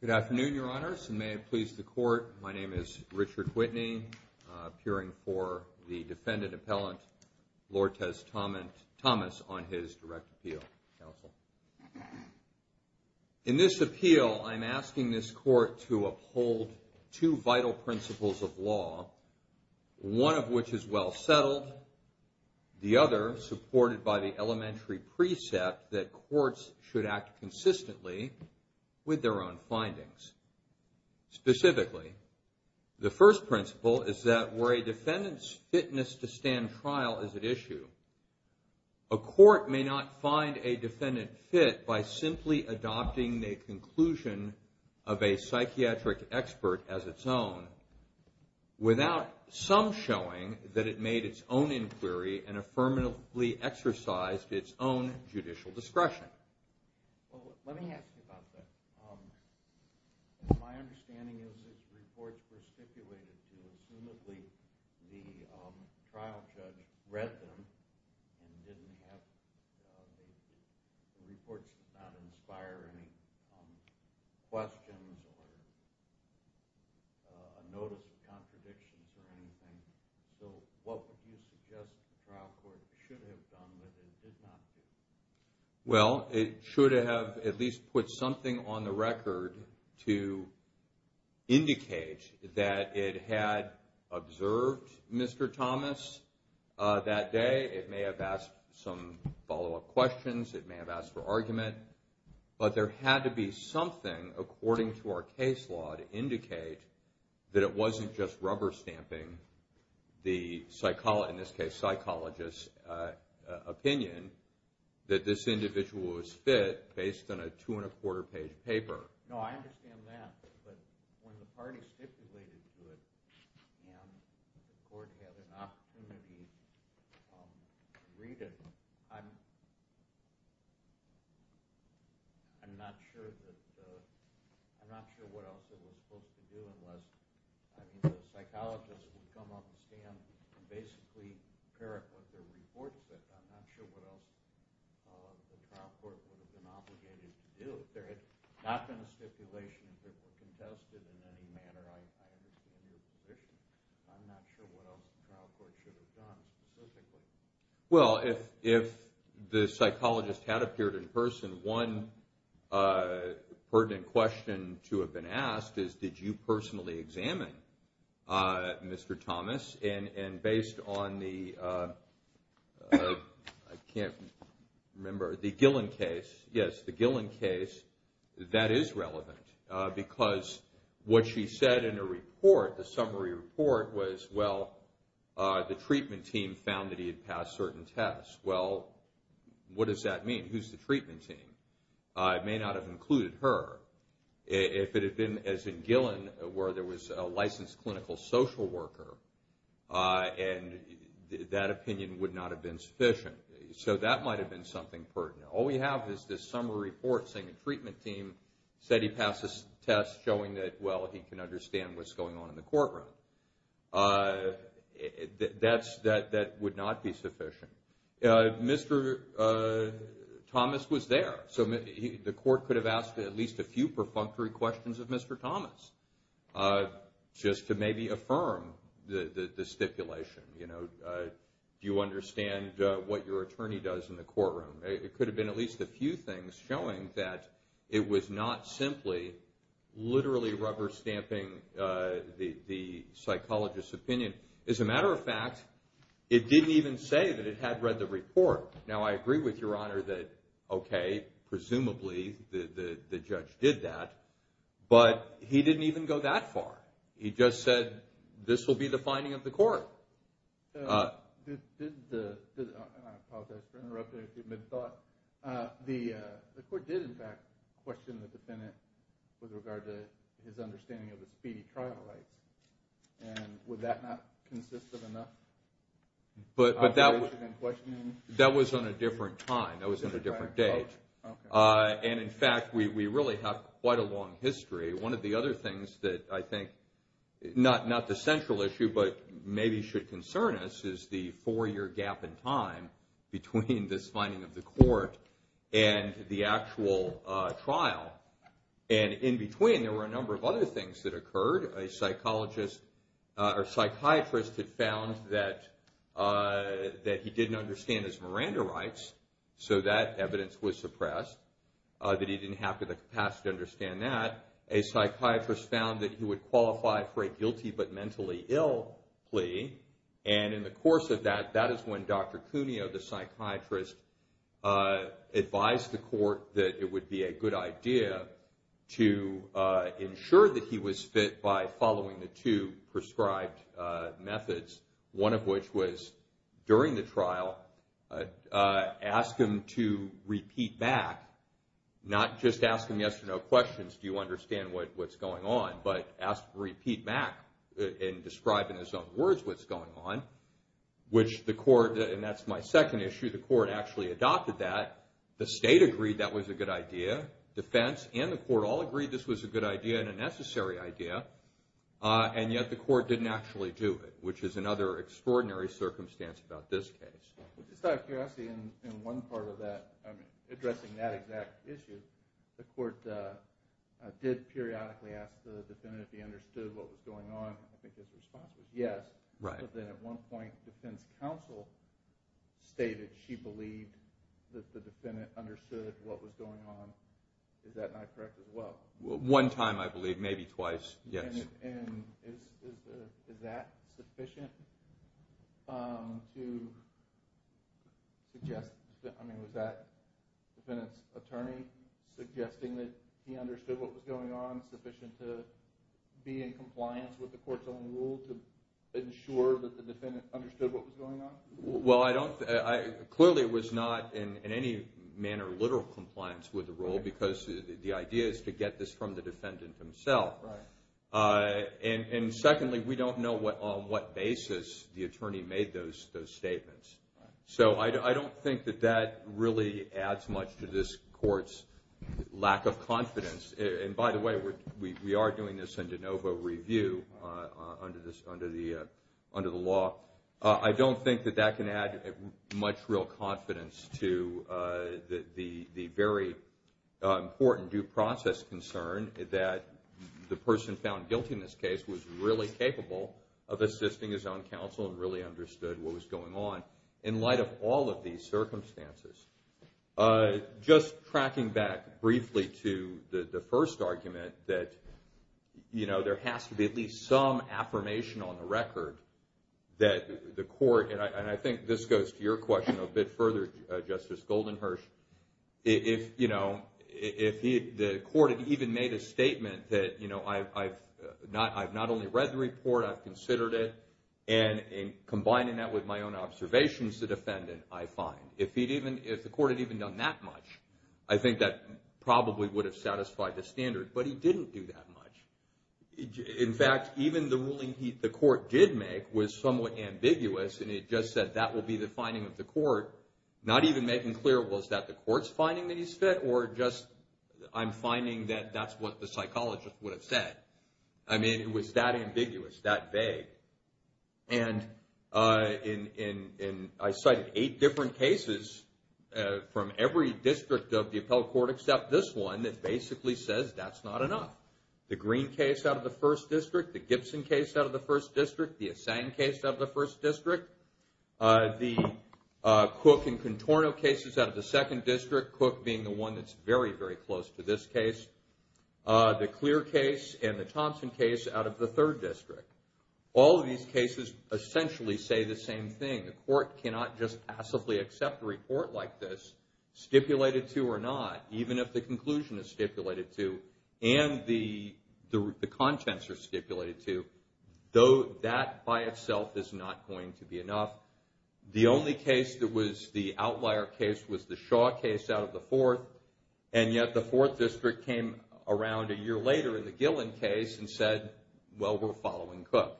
Good afternoon, Your Honors, and may it please the Court, my name is Richard Whitney, appearing for the defendant appellant, Lortes Thomas, on his direct appeal. In this appeal, I'm asking this Court to uphold two vital principles of law, one of which is well settled, the other supported by the elementary precept that courts should act consistently with their own findings. Specifically, the first principle is that where a defendant's fitness to stand trial is at issue, a court may not find a defendant fit by simply adopting the conclusion of a psychiatric expert as its own without some showing that it made its own inquiry and affirmatively exercised its own judicial discretion. Let me ask you about that. My understanding is that these reports were stipulated to you. Assumedly, the trial judge read them and the reports did not inspire any questions or a notice of contradictions or anything. So what would you suggest the trial court should have done that it did not do? Well, it should have at least put something on the record to indicate that it had observed Mr. Thomas that day. It may have asked some follow-up questions, it may have asked for argument, but there had to be something according to our case law to indicate that it wasn't just rubber stamping the, in this case, psychologist's opinion, that this individual was fit based on a two and a quarter page paper. I'm not sure what else the trial court should have done specifically. Remember, the Gillen case, yes, the Gillen case, that is relevant because what she said in her report, the summary report, was, well, the treatment team found that he had passed certain tests. Well, what does that mean? Who's the treatment team? It may not have included her. If it had been, as in Gillen, where there was a licensed clinical social worker, and that opinion would not have been sufficient. So that might have been something pertinent. All we have is this summary report saying the treatment team said he passed this test showing that, well, he can understand what's going on in the courtroom. That would not be sufficient. Mr. Thomas was there, so the court could have asked at least a few perfunctory questions of Mr. Thomas just to maybe affirm the stipulation. Do you understand what your attorney does in the courtroom? It could have been at least a few things showing that it was not simply literally rubber stamping the psychologist's opinion. As a matter of fact, it didn't even say that it had read the report. Now, I agree with Your Honor that, okay, presumably the judge did that, but he didn't even go that far. He just said, this will be the finding of the court. I apologize for interrupting as you've been thought. The court did, in fact, question the defendant with regard to his understanding of the speedy trial rights, and would that not consist of enough? That was on a different time. That was on a different date. In fact, we really have quite a long history. One of the other things that I think, not the central issue, but maybe should concern us is the four-year gap in time between this finding of the court and the actual trial. In between, there were a number of other things that occurred. A psychiatrist had found that he didn't understand his Miranda rights, so that evidence was suppressed, that he didn't have the capacity to understand that. A psychiatrist found that he would qualify for a guilty but mentally ill plea. In the course of that, that is when Dr. Cuneo, the psychiatrist, advised the court that it would be a good idea to ensure that he was fit by following the two prescribed methods, one of which was, during the trial, ask him to repeat back, not just ask him yes or no questions. Do you understand what's going on? But ask, repeat back and describe in his own words what's going on, which the court, and that's my second issue, the court actually adopted that. The state agreed that was a good idea. Defense and the court all agreed this was a good idea and a necessary idea, and yet the court didn't actually do it, which is another extraordinary circumstance about this case. Just out of curiosity, in one part of that, addressing that exact issue, the court did periodically ask the defendant if he understood what was going on. I think his response was yes, but then at one point defense counsel stated she believed that the defendant understood what was going on. Is that not correct as well? One time, I believe, maybe twice, yes. Is that sufficient to suggest, I mean, was that defendant's attorney suggesting that he understood what was going on sufficient to be in compliance with the court's own rule to ensure that the defendant understood what was going on? Well, I don't, clearly it was not in any manner literal compliance with the rule because the idea is to get this from the defendant himself. And secondly, we don't know on what basis the attorney made those statements. So I don't think that that really adds much to this court's lack of confidence. And by the way, we are doing this in de novo review under the law. I don't think that that can add much real confidence to the very important due process concern that the person found guilty in this case was really capable of assisting his own counsel and really understood what was going on. In light of all of these circumstances, just tracking back briefly to the first argument that, you know, there has to be at least some affirmation on the record that the court, and I think this goes to your question a bit further, Justice Goldenhirsch, if, you know, if the court had even made a statement that, you know, I've not only read the report, I've considered it. And combining that with my own observations, the defendant, I find, if he'd even, if the court had even done that much, I think that probably would have satisfied the standard, but he didn't do that much. In fact, even the ruling the court did make was somewhat ambiguous, and it just said that will be the finding of the court. Not even making clear was that the court's finding that he's fit or just I'm finding that that's what the psychologist would have said. I mean, it was that ambiguous, that vague. And in, I cited eight different cases from every district of the appellate court except this one that basically says that's not enough. The Green case out of the first district, the Gibson case out of the first district, the Assang case out of the first district, the Cook and Contorno cases out of the second district, Cook being the one that's very, very close to this case, the Clear case and the Thompson case out of the third district. All of these cases essentially say the same thing. The court cannot just passively accept a report like this, stipulated to or not, even if the conclusion is stipulated to and the contents are stipulated to, though that by itself is not going to be enough. The only case that was the outlier case was the Shaw case out of the fourth, and yet the fourth district came around a year later in the Gillen case and said, well, we're following Cook.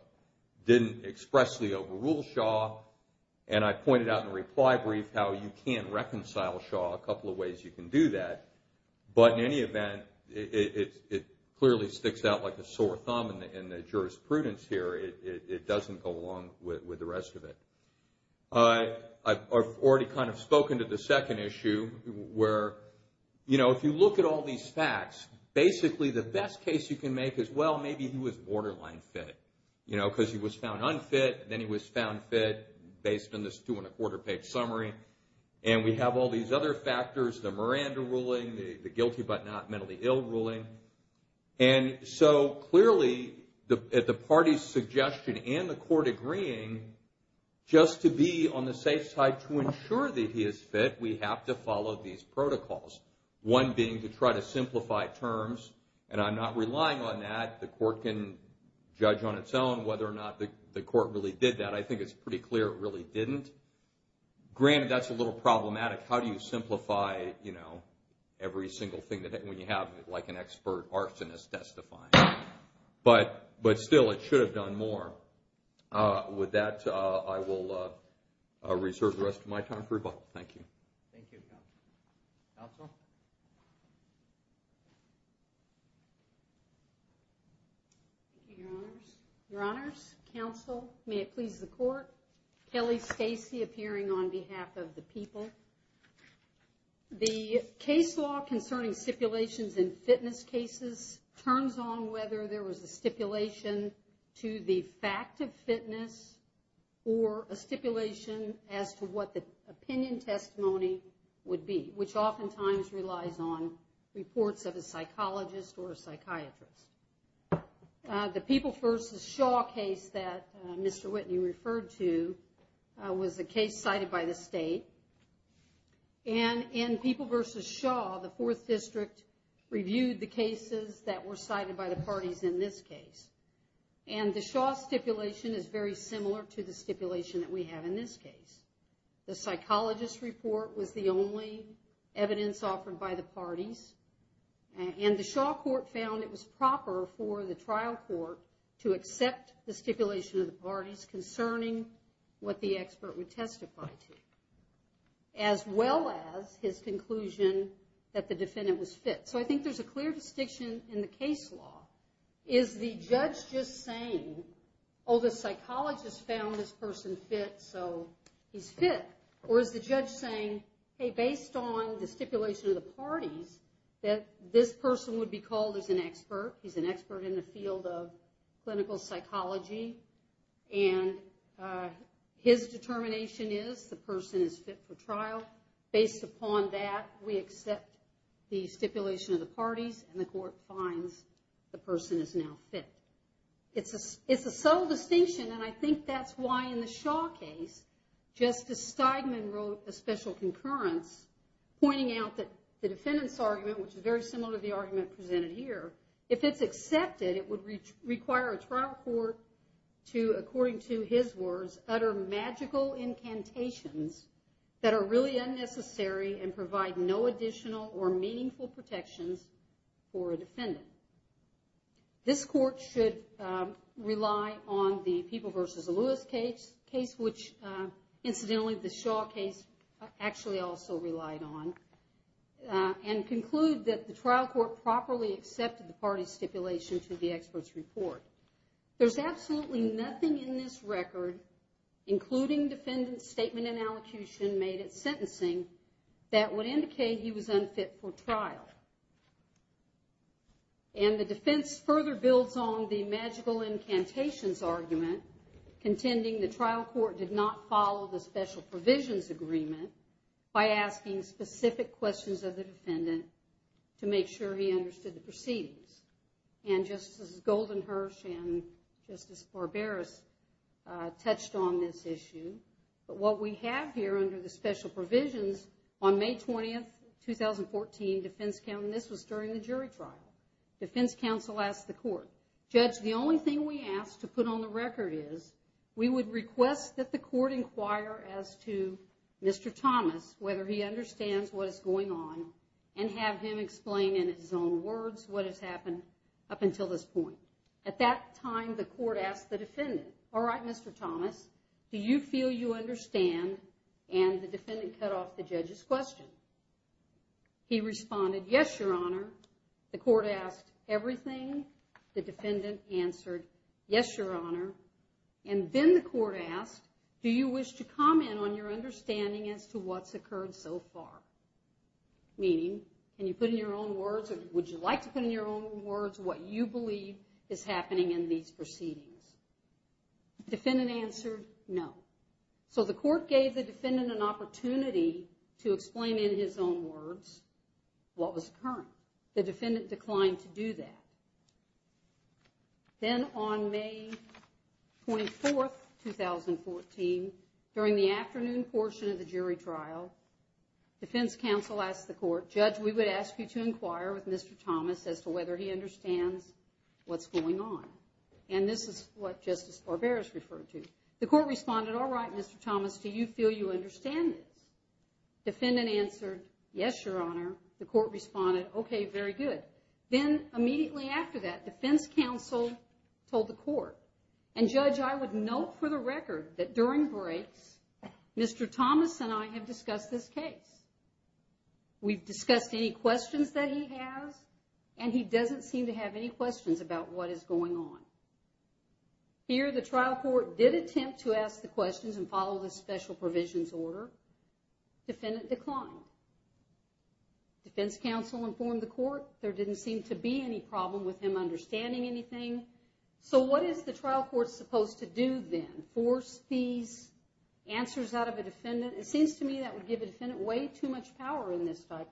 Didn't expressly overrule Shaw, and I pointed out in the reply brief how you can reconcile Shaw, a couple of ways you can do that. But in any event, it clearly sticks out like a sore thumb in the jurisprudence here. It doesn't go along with the rest of it. I've already kind of spoken to the second issue where, you know, if you look at all these facts, basically the best case you can make is, well, maybe he was borderline fit. You know, because he was found unfit, and then he was found fit based on this two and a quarter page summary. And we have all these other factors, the Miranda ruling, the guilty but not mentally ill ruling. And so clearly, at the party's suggestion and the court agreeing, just to be on the safe side to ensure that he is fit, we have to follow these protocols. One being to try to simplify terms, and I'm not relying on that. The court can judge on its own whether or not the court really did that. I think it's pretty clear it really didn't. Granted, that's a little problematic. How do you simplify, you know, every single thing when you have like an expert arsonist testifying? But still, it should have done more. With that, I will reserve the rest of my time for rebuttal. Thank you. Thank you, counsel. Counsel? Thank you, your honors. Your honors, counsel, may it please the court. Kelly Stacy appearing on behalf of the people. The case law concerning stipulations in fitness cases turns on whether there was a stipulation to the fact of fitness or a stipulation as to what the opinion testimony would be, which oftentimes relies on reports of a psychologist or a psychiatrist. The People v. Shaw case that Mr. Whitney referred to was a case cited by the state. And in People v. Shaw, the 4th District reviewed the cases that were cited by the parties in this case. And the Shaw stipulation is very similar to the stipulation that we have in this case. The psychologist report was the only evidence offered by the parties. And the Shaw court found it was proper for the trial court to accept the stipulation of the parties concerning what the expert would testify to, as well as his conclusion that the defendant was fit. So I think there's a clear distinction in the case law. Is the judge just saying, oh, the psychologist found this person fit, so he's fit? Or is the judge saying, hey, based on the stipulation of the parties, that this person would be called as an expert? He's an expert in the field of clinical psychology. And his determination is the person is fit for trial. Based upon that, we accept the stipulation of the parties, and the court finds the person is now fit. It's a subtle distinction, and I think that's why in the Shaw case, Justice Steigman wrote a special concurrence pointing out that the defendant's argument, which is very similar to the argument presented here, if it's accepted, it would require a trial court to, according to his words, utter magical incantations that are really unnecessary and provide no additional or meaningful protections for a defendant. This court should rely on the People v. Lewis case, which, incidentally, the Shaw case actually also relied on, and conclude that the trial court properly accepted the parties' stipulation to the expert's report. There's absolutely nothing in this record, including defendant's statement and allocution made at sentencing, that would indicate he was unfit for trial. And the defense further builds on the magical incantations argument, contending the trial court did not follow the special provisions agreement by asking specific questions of the defendant to make sure he understood the proceedings. And Justice Goldenherz and Justice Barberis touched on this issue, but what we have here under the special provisions on May 20th, 2014, defense counsel, and this was during the jury trial, defense counsel asked the court, Judge, the only thing we ask to put on the record is we would request that the court inquire as to Mr. Thomas, whether he understands what is going on, and have him explain in his own words what has happened to him. Up until this point. At that time, the court asked the defendant, all right, Mr. Thomas, do you feel you understand? And the defendant cut off the judge's question. He responded, yes, your honor. The court asked everything. The defendant answered, yes, your honor. And then the court asked, do you wish to comment on your understanding as to what's occurred so far? Meaning, can you put in your own words or would you like to put in your own words what you believe is happening in these proceedings? The defendant answered, no. So the court gave the defendant an opportunity to explain in his own words what was occurring. The defendant declined to do that. Then on May 24th, 2014, during the afternoon portion of the jury trial, defense counsel asked the court, Judge, we would ask you to inquire with Mr. Thomas as to whether he understands what's going on. And this is what Justice Barbera has referred to. The court responded, all right, Mr. Thomas, do you feel you understand this? Defendant answered, yes, your honor. The court responded, okay, very good. Then immediately after that, defense counsel told the court, and Judge, I would note for the record that during breaks, Mr. Thomas and I have discussed this case. We've discussed any questions that he has, and he doesn't seem to have any questions about what is going on. Here, the trial court did attempt to ask the questions and follow the special provisions order. Defendant declined. Defense counsel informed the court there didn't seem to be any problem with him understanding anything. So what is the trial court supposed to do then? Force these answers out of a defendant? It seems to me that would give a defendant way too much power in this type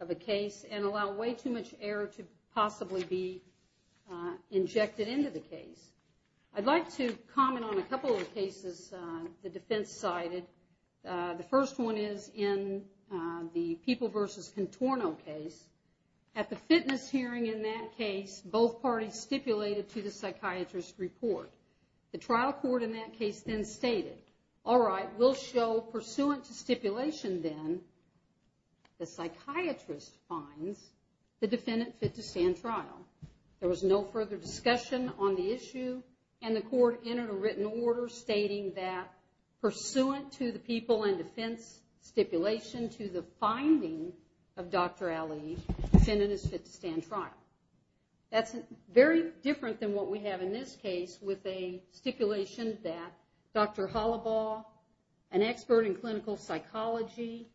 of a case and allow way too much error to possibly be injected into the case. I'd like to comment on a couple of cases the defense cited. The first one is in the People v. Contorno case. At the fitness hearing in that case, both parties stipulated to the psychiatrist's report. The trial court in that case then stated, all right, we'll show pursuant to stipulation then, the psychiatrist finds the defendant fit to stand trial. There was no further discussion on the issue, and the court entered a written order stating that pursuant to the people and defense stipulation to the finding of Dr. Ali, defendant is fit to stand trial. That's very different than what we have in this case with a stipulation that Dr. Hollibaugh, an expert in clinical psychology,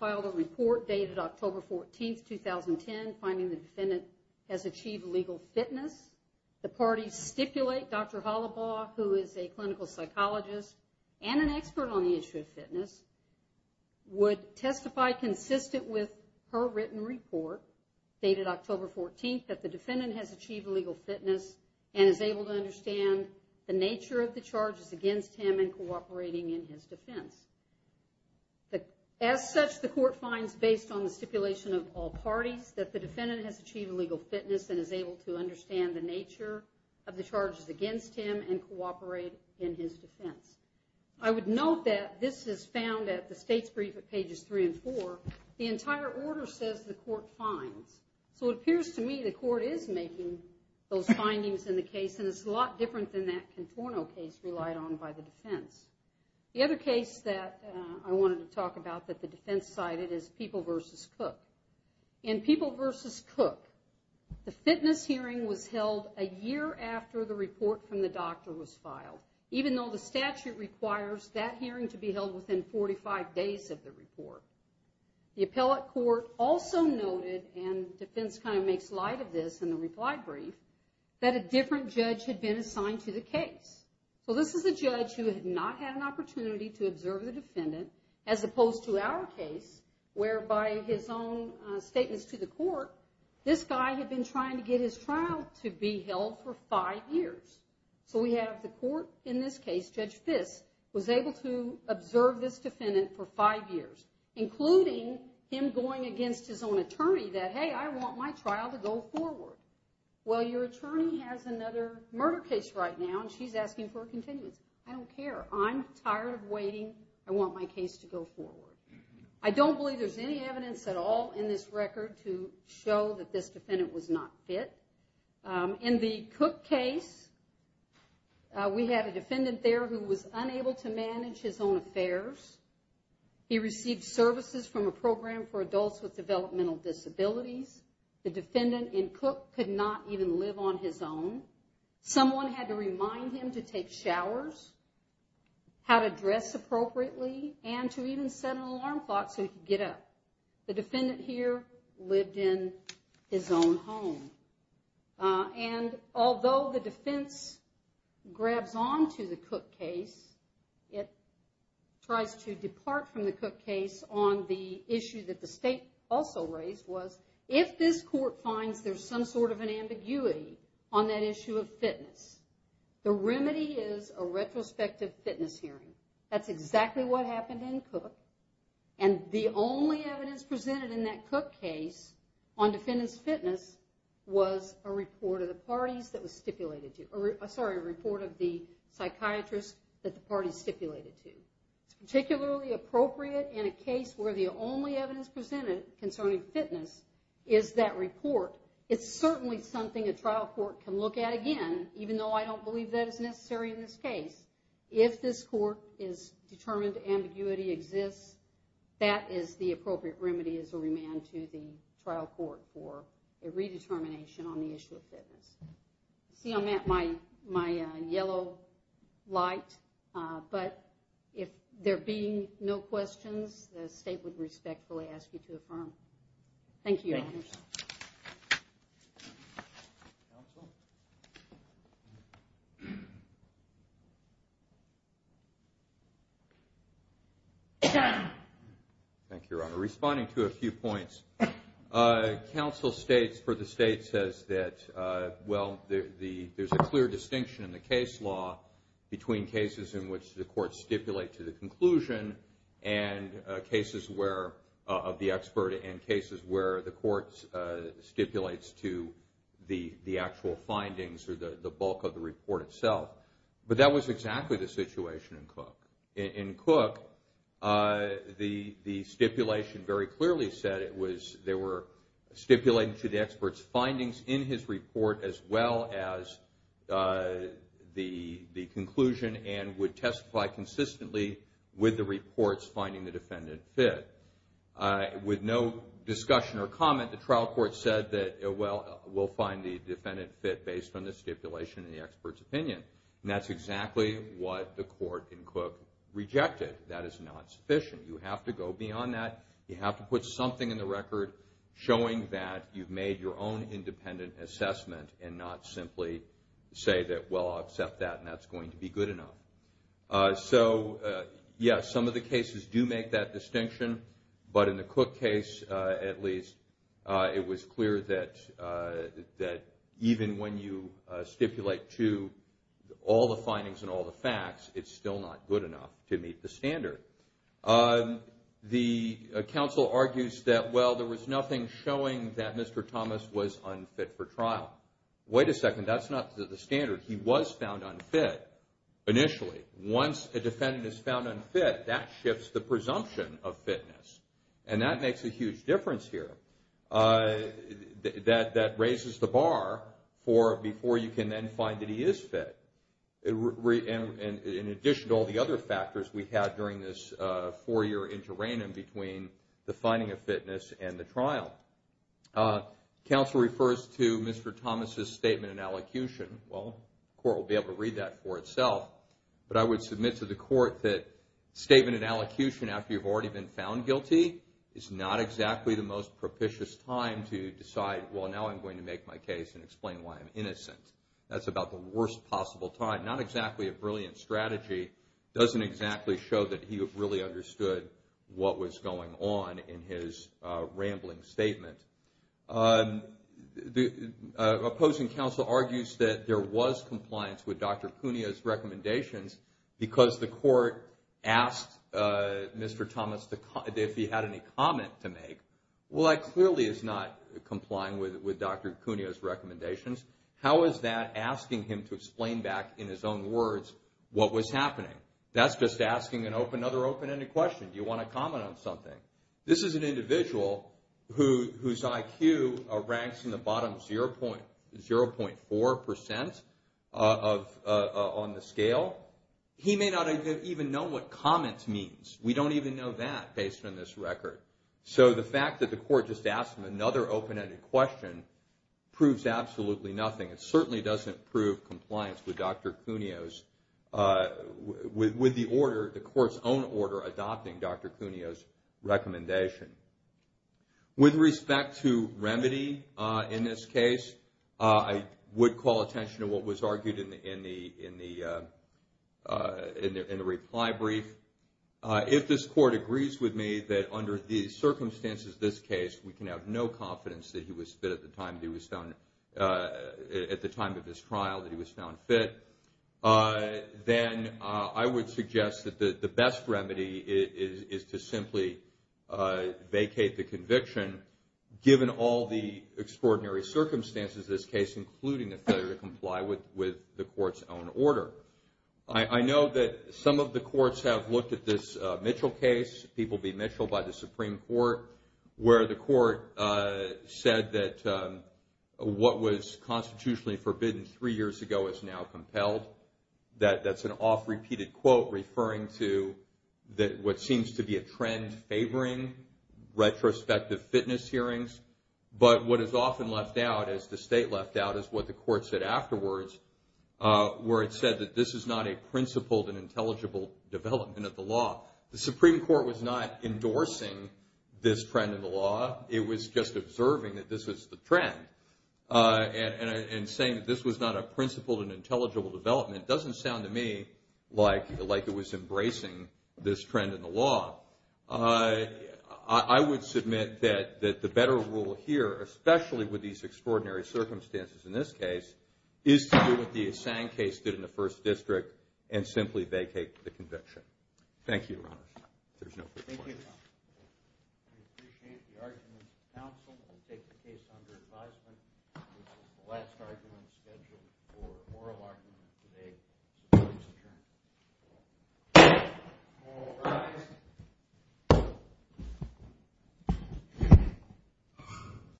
filed a report dated October 14, 2010, finding the defendant has achieved legal fitness. The parties stipulate Dr. Hollibaugh, who is a clinical psychologist and an expert on the issue of fitness, would testify consistent with her written report dated October 14 that the defendant has achieved legal fitness and is able to understand the nature of the charges against him in cooperating in his defense. As such, the court finds based on the stipulation of all parties that the defendant has achieved legal fitness and is able to understand the nature of the charges against him and cooperate in his defense. I would note that this is found at the state's brief at pages three and four. The entire order says the court finds. So it appears to me the court is making those findings in the case, and it's a lot different than that Contorno case relied on by the defense. The other case that I wanted to talk about that the defense cited is People v. Cook. In People v. Cook, the fitness hearing was held a year after the report from the doctor was filed, even though the statute requires that hearing to be held within 45 days of the report. The appellate court also noted, and defense kind of makes light of this in the reply brief, that a different judge had been assigned to the case. So this is a judge who had not had an opportunity to observe the defendant, as opposed to our case, where by his own statements to the court, this guy had been trying to get his trial to be held for five years. So we have the court in this case, Judge Fiss, was able to observe this defendant for five years, including him going against his own attorney that, hey, I want my trial to go forward. Well, your attorney has another murder case right now, and she's asking for a continuance. I don't care. I'm tired of waiting. I want my case to go forward. I don't believe there's any evidence at all in this record to show that this defendant was not fit. In the Cook case, we had a defendant there who was unable to manage his own affairs. He received services from a program for adults with developmental disabilities. The defendant in Cook could not even live on his own. Someone had to remind him to take showers, how to dress appropriately, and to even set an alarm clock so he could get up. The defendant here lived in his own home. And although the defense grabs onto the Cook case, it tries to depart from the Cook case on the issue that the state also raised was, if this court finds there's some sort of an ambiguity on that issue of fitness, the remedy is a retrospective fitness hearing. That's exactly what happened in Cook, and the only evidence presented in that Cook case on defendant's fitness was a report of the psychiatrist that the parties stipulated to. It's particularly appropriate in a case where the only evidence presented concerning fitness is that report. It's certainly something a trial court can look at again, even though I don't believe that is necessary in this case. If this court is determined ambiguity exists, that is the appropriate remedy as a remand to the trial court for a redetermination on the issue of fitness. See, I'm at my yellow light, but if there being no questions, the state would respectfully ask you to affirm. Thank you. Thank you, Your Honor. Responding to a few points, counsel states for the state says that, well, there's a clear distinction in the case law between cases in which the court stipulate to the conclusion of the expert and cases where the court stipulates to the actual findings or the bulk of the report itself. But that was exactly the situation in Cook. In Cook, the stipulation very clearly said they were stipulating to the expert's findings in his report as well as the conclusion and would testify consistently with the reports finding the defendant fit. With no discussion or comment, the trial court said that, well, we'll find the defendant fit based on the stipulation and the expert's opinion. And that's exactly what the court in Cook rejected. That is not sufficient. You have to go beyond that. You have to put something in the record showing that you've made your own independent assessment and not simply say that, well, I'll accept that and that's going to be good enough. So, yes, some of the cases do make that distinction. But in the Cook case, at least, it was clear that even when you stipulate to all the findings and all the facts, it's still not good enough to meet the standard. The counsel argues that, well, there was nothing showing that Mr. Thomas was unfit for trial. Wait a second, that's not the standard. He was found unfit initially. Once a defendant is found unfit, that shifts the presumption of fitness. And that makes a huge difference here. That raises the bar for before you can then find that he is fit. In addition to all the other factors we had during this four-year interrenum between the finding of fitness and the trial. Counsel refers to Mr. Thomas' statement in elocution. Well, the court will be able to read that for itself. But I would submit to the court that statement in elocution after you've already been found guilty is not exactly the most propitious time to decide, well, now I'm going to make my case and explain why I'm innocent. That's about the worst possible time. Not exactly a brilliant strategy doesn't exactly show that he really understood what was going on in his rambling statement. The opposing counsel argues that there was compliance with Dr. Cuneo's recommendations because the court asked Mr. Thomas if he had any comment to make. Well, that clearly is not complying with Dr. Cuneo's recommendations. How is that asking him to explain back in his own words what was happening? That's just asking another open-ended question. Do you want to comment on something? This is an individual whose IQ ranks in the bottom 0.4% on the scale. He may not even know what comment means. We don't even know that based on this record. So the fact that the court just asked him another open-ended question proves absolutely nothing. It certainly doesn't prove compliance with Dr. Cuneo's, with the order, the court's own order adopting Dr. Cuneo's recommendation. With respect to remedy in this case, I would call attention to what was argued in the reply brief. If this court agrees with me that under the circumstances of this case, we can have no confidence that he was fit at the time of this trial, that he was found fit, then I would suggest that the best remedy is to simply vacate the conviction, given all the extraordinary circumstances of this case, including a failure to comply with the court's own order. I know that some of the courts have looked at this Mitchell case, People v. Mitchell by the Supreme Court, where the court said that what was constitutionally forbidden three years ago is now compelled. That's an oft-repeated quote referring to what seems to be a trend favoring retrospective fitness hearings. But what is often left out, as the state left out, is what the court said afterwards, where it said that this is not a principled and intelligible development of the law. The Supreme Court was not endorsing this trend in the law. It was just observing that this was the trend, and saying that this was not a principled and intelligible development doesn't sound to me like it was embracing this trend in the law. I would submit that the better rule here, especially with these extraordinary circumstances in this case, is to do what the Assange case did in the First District, and simply vacate the conviction. Thank you very much. There's no further questions.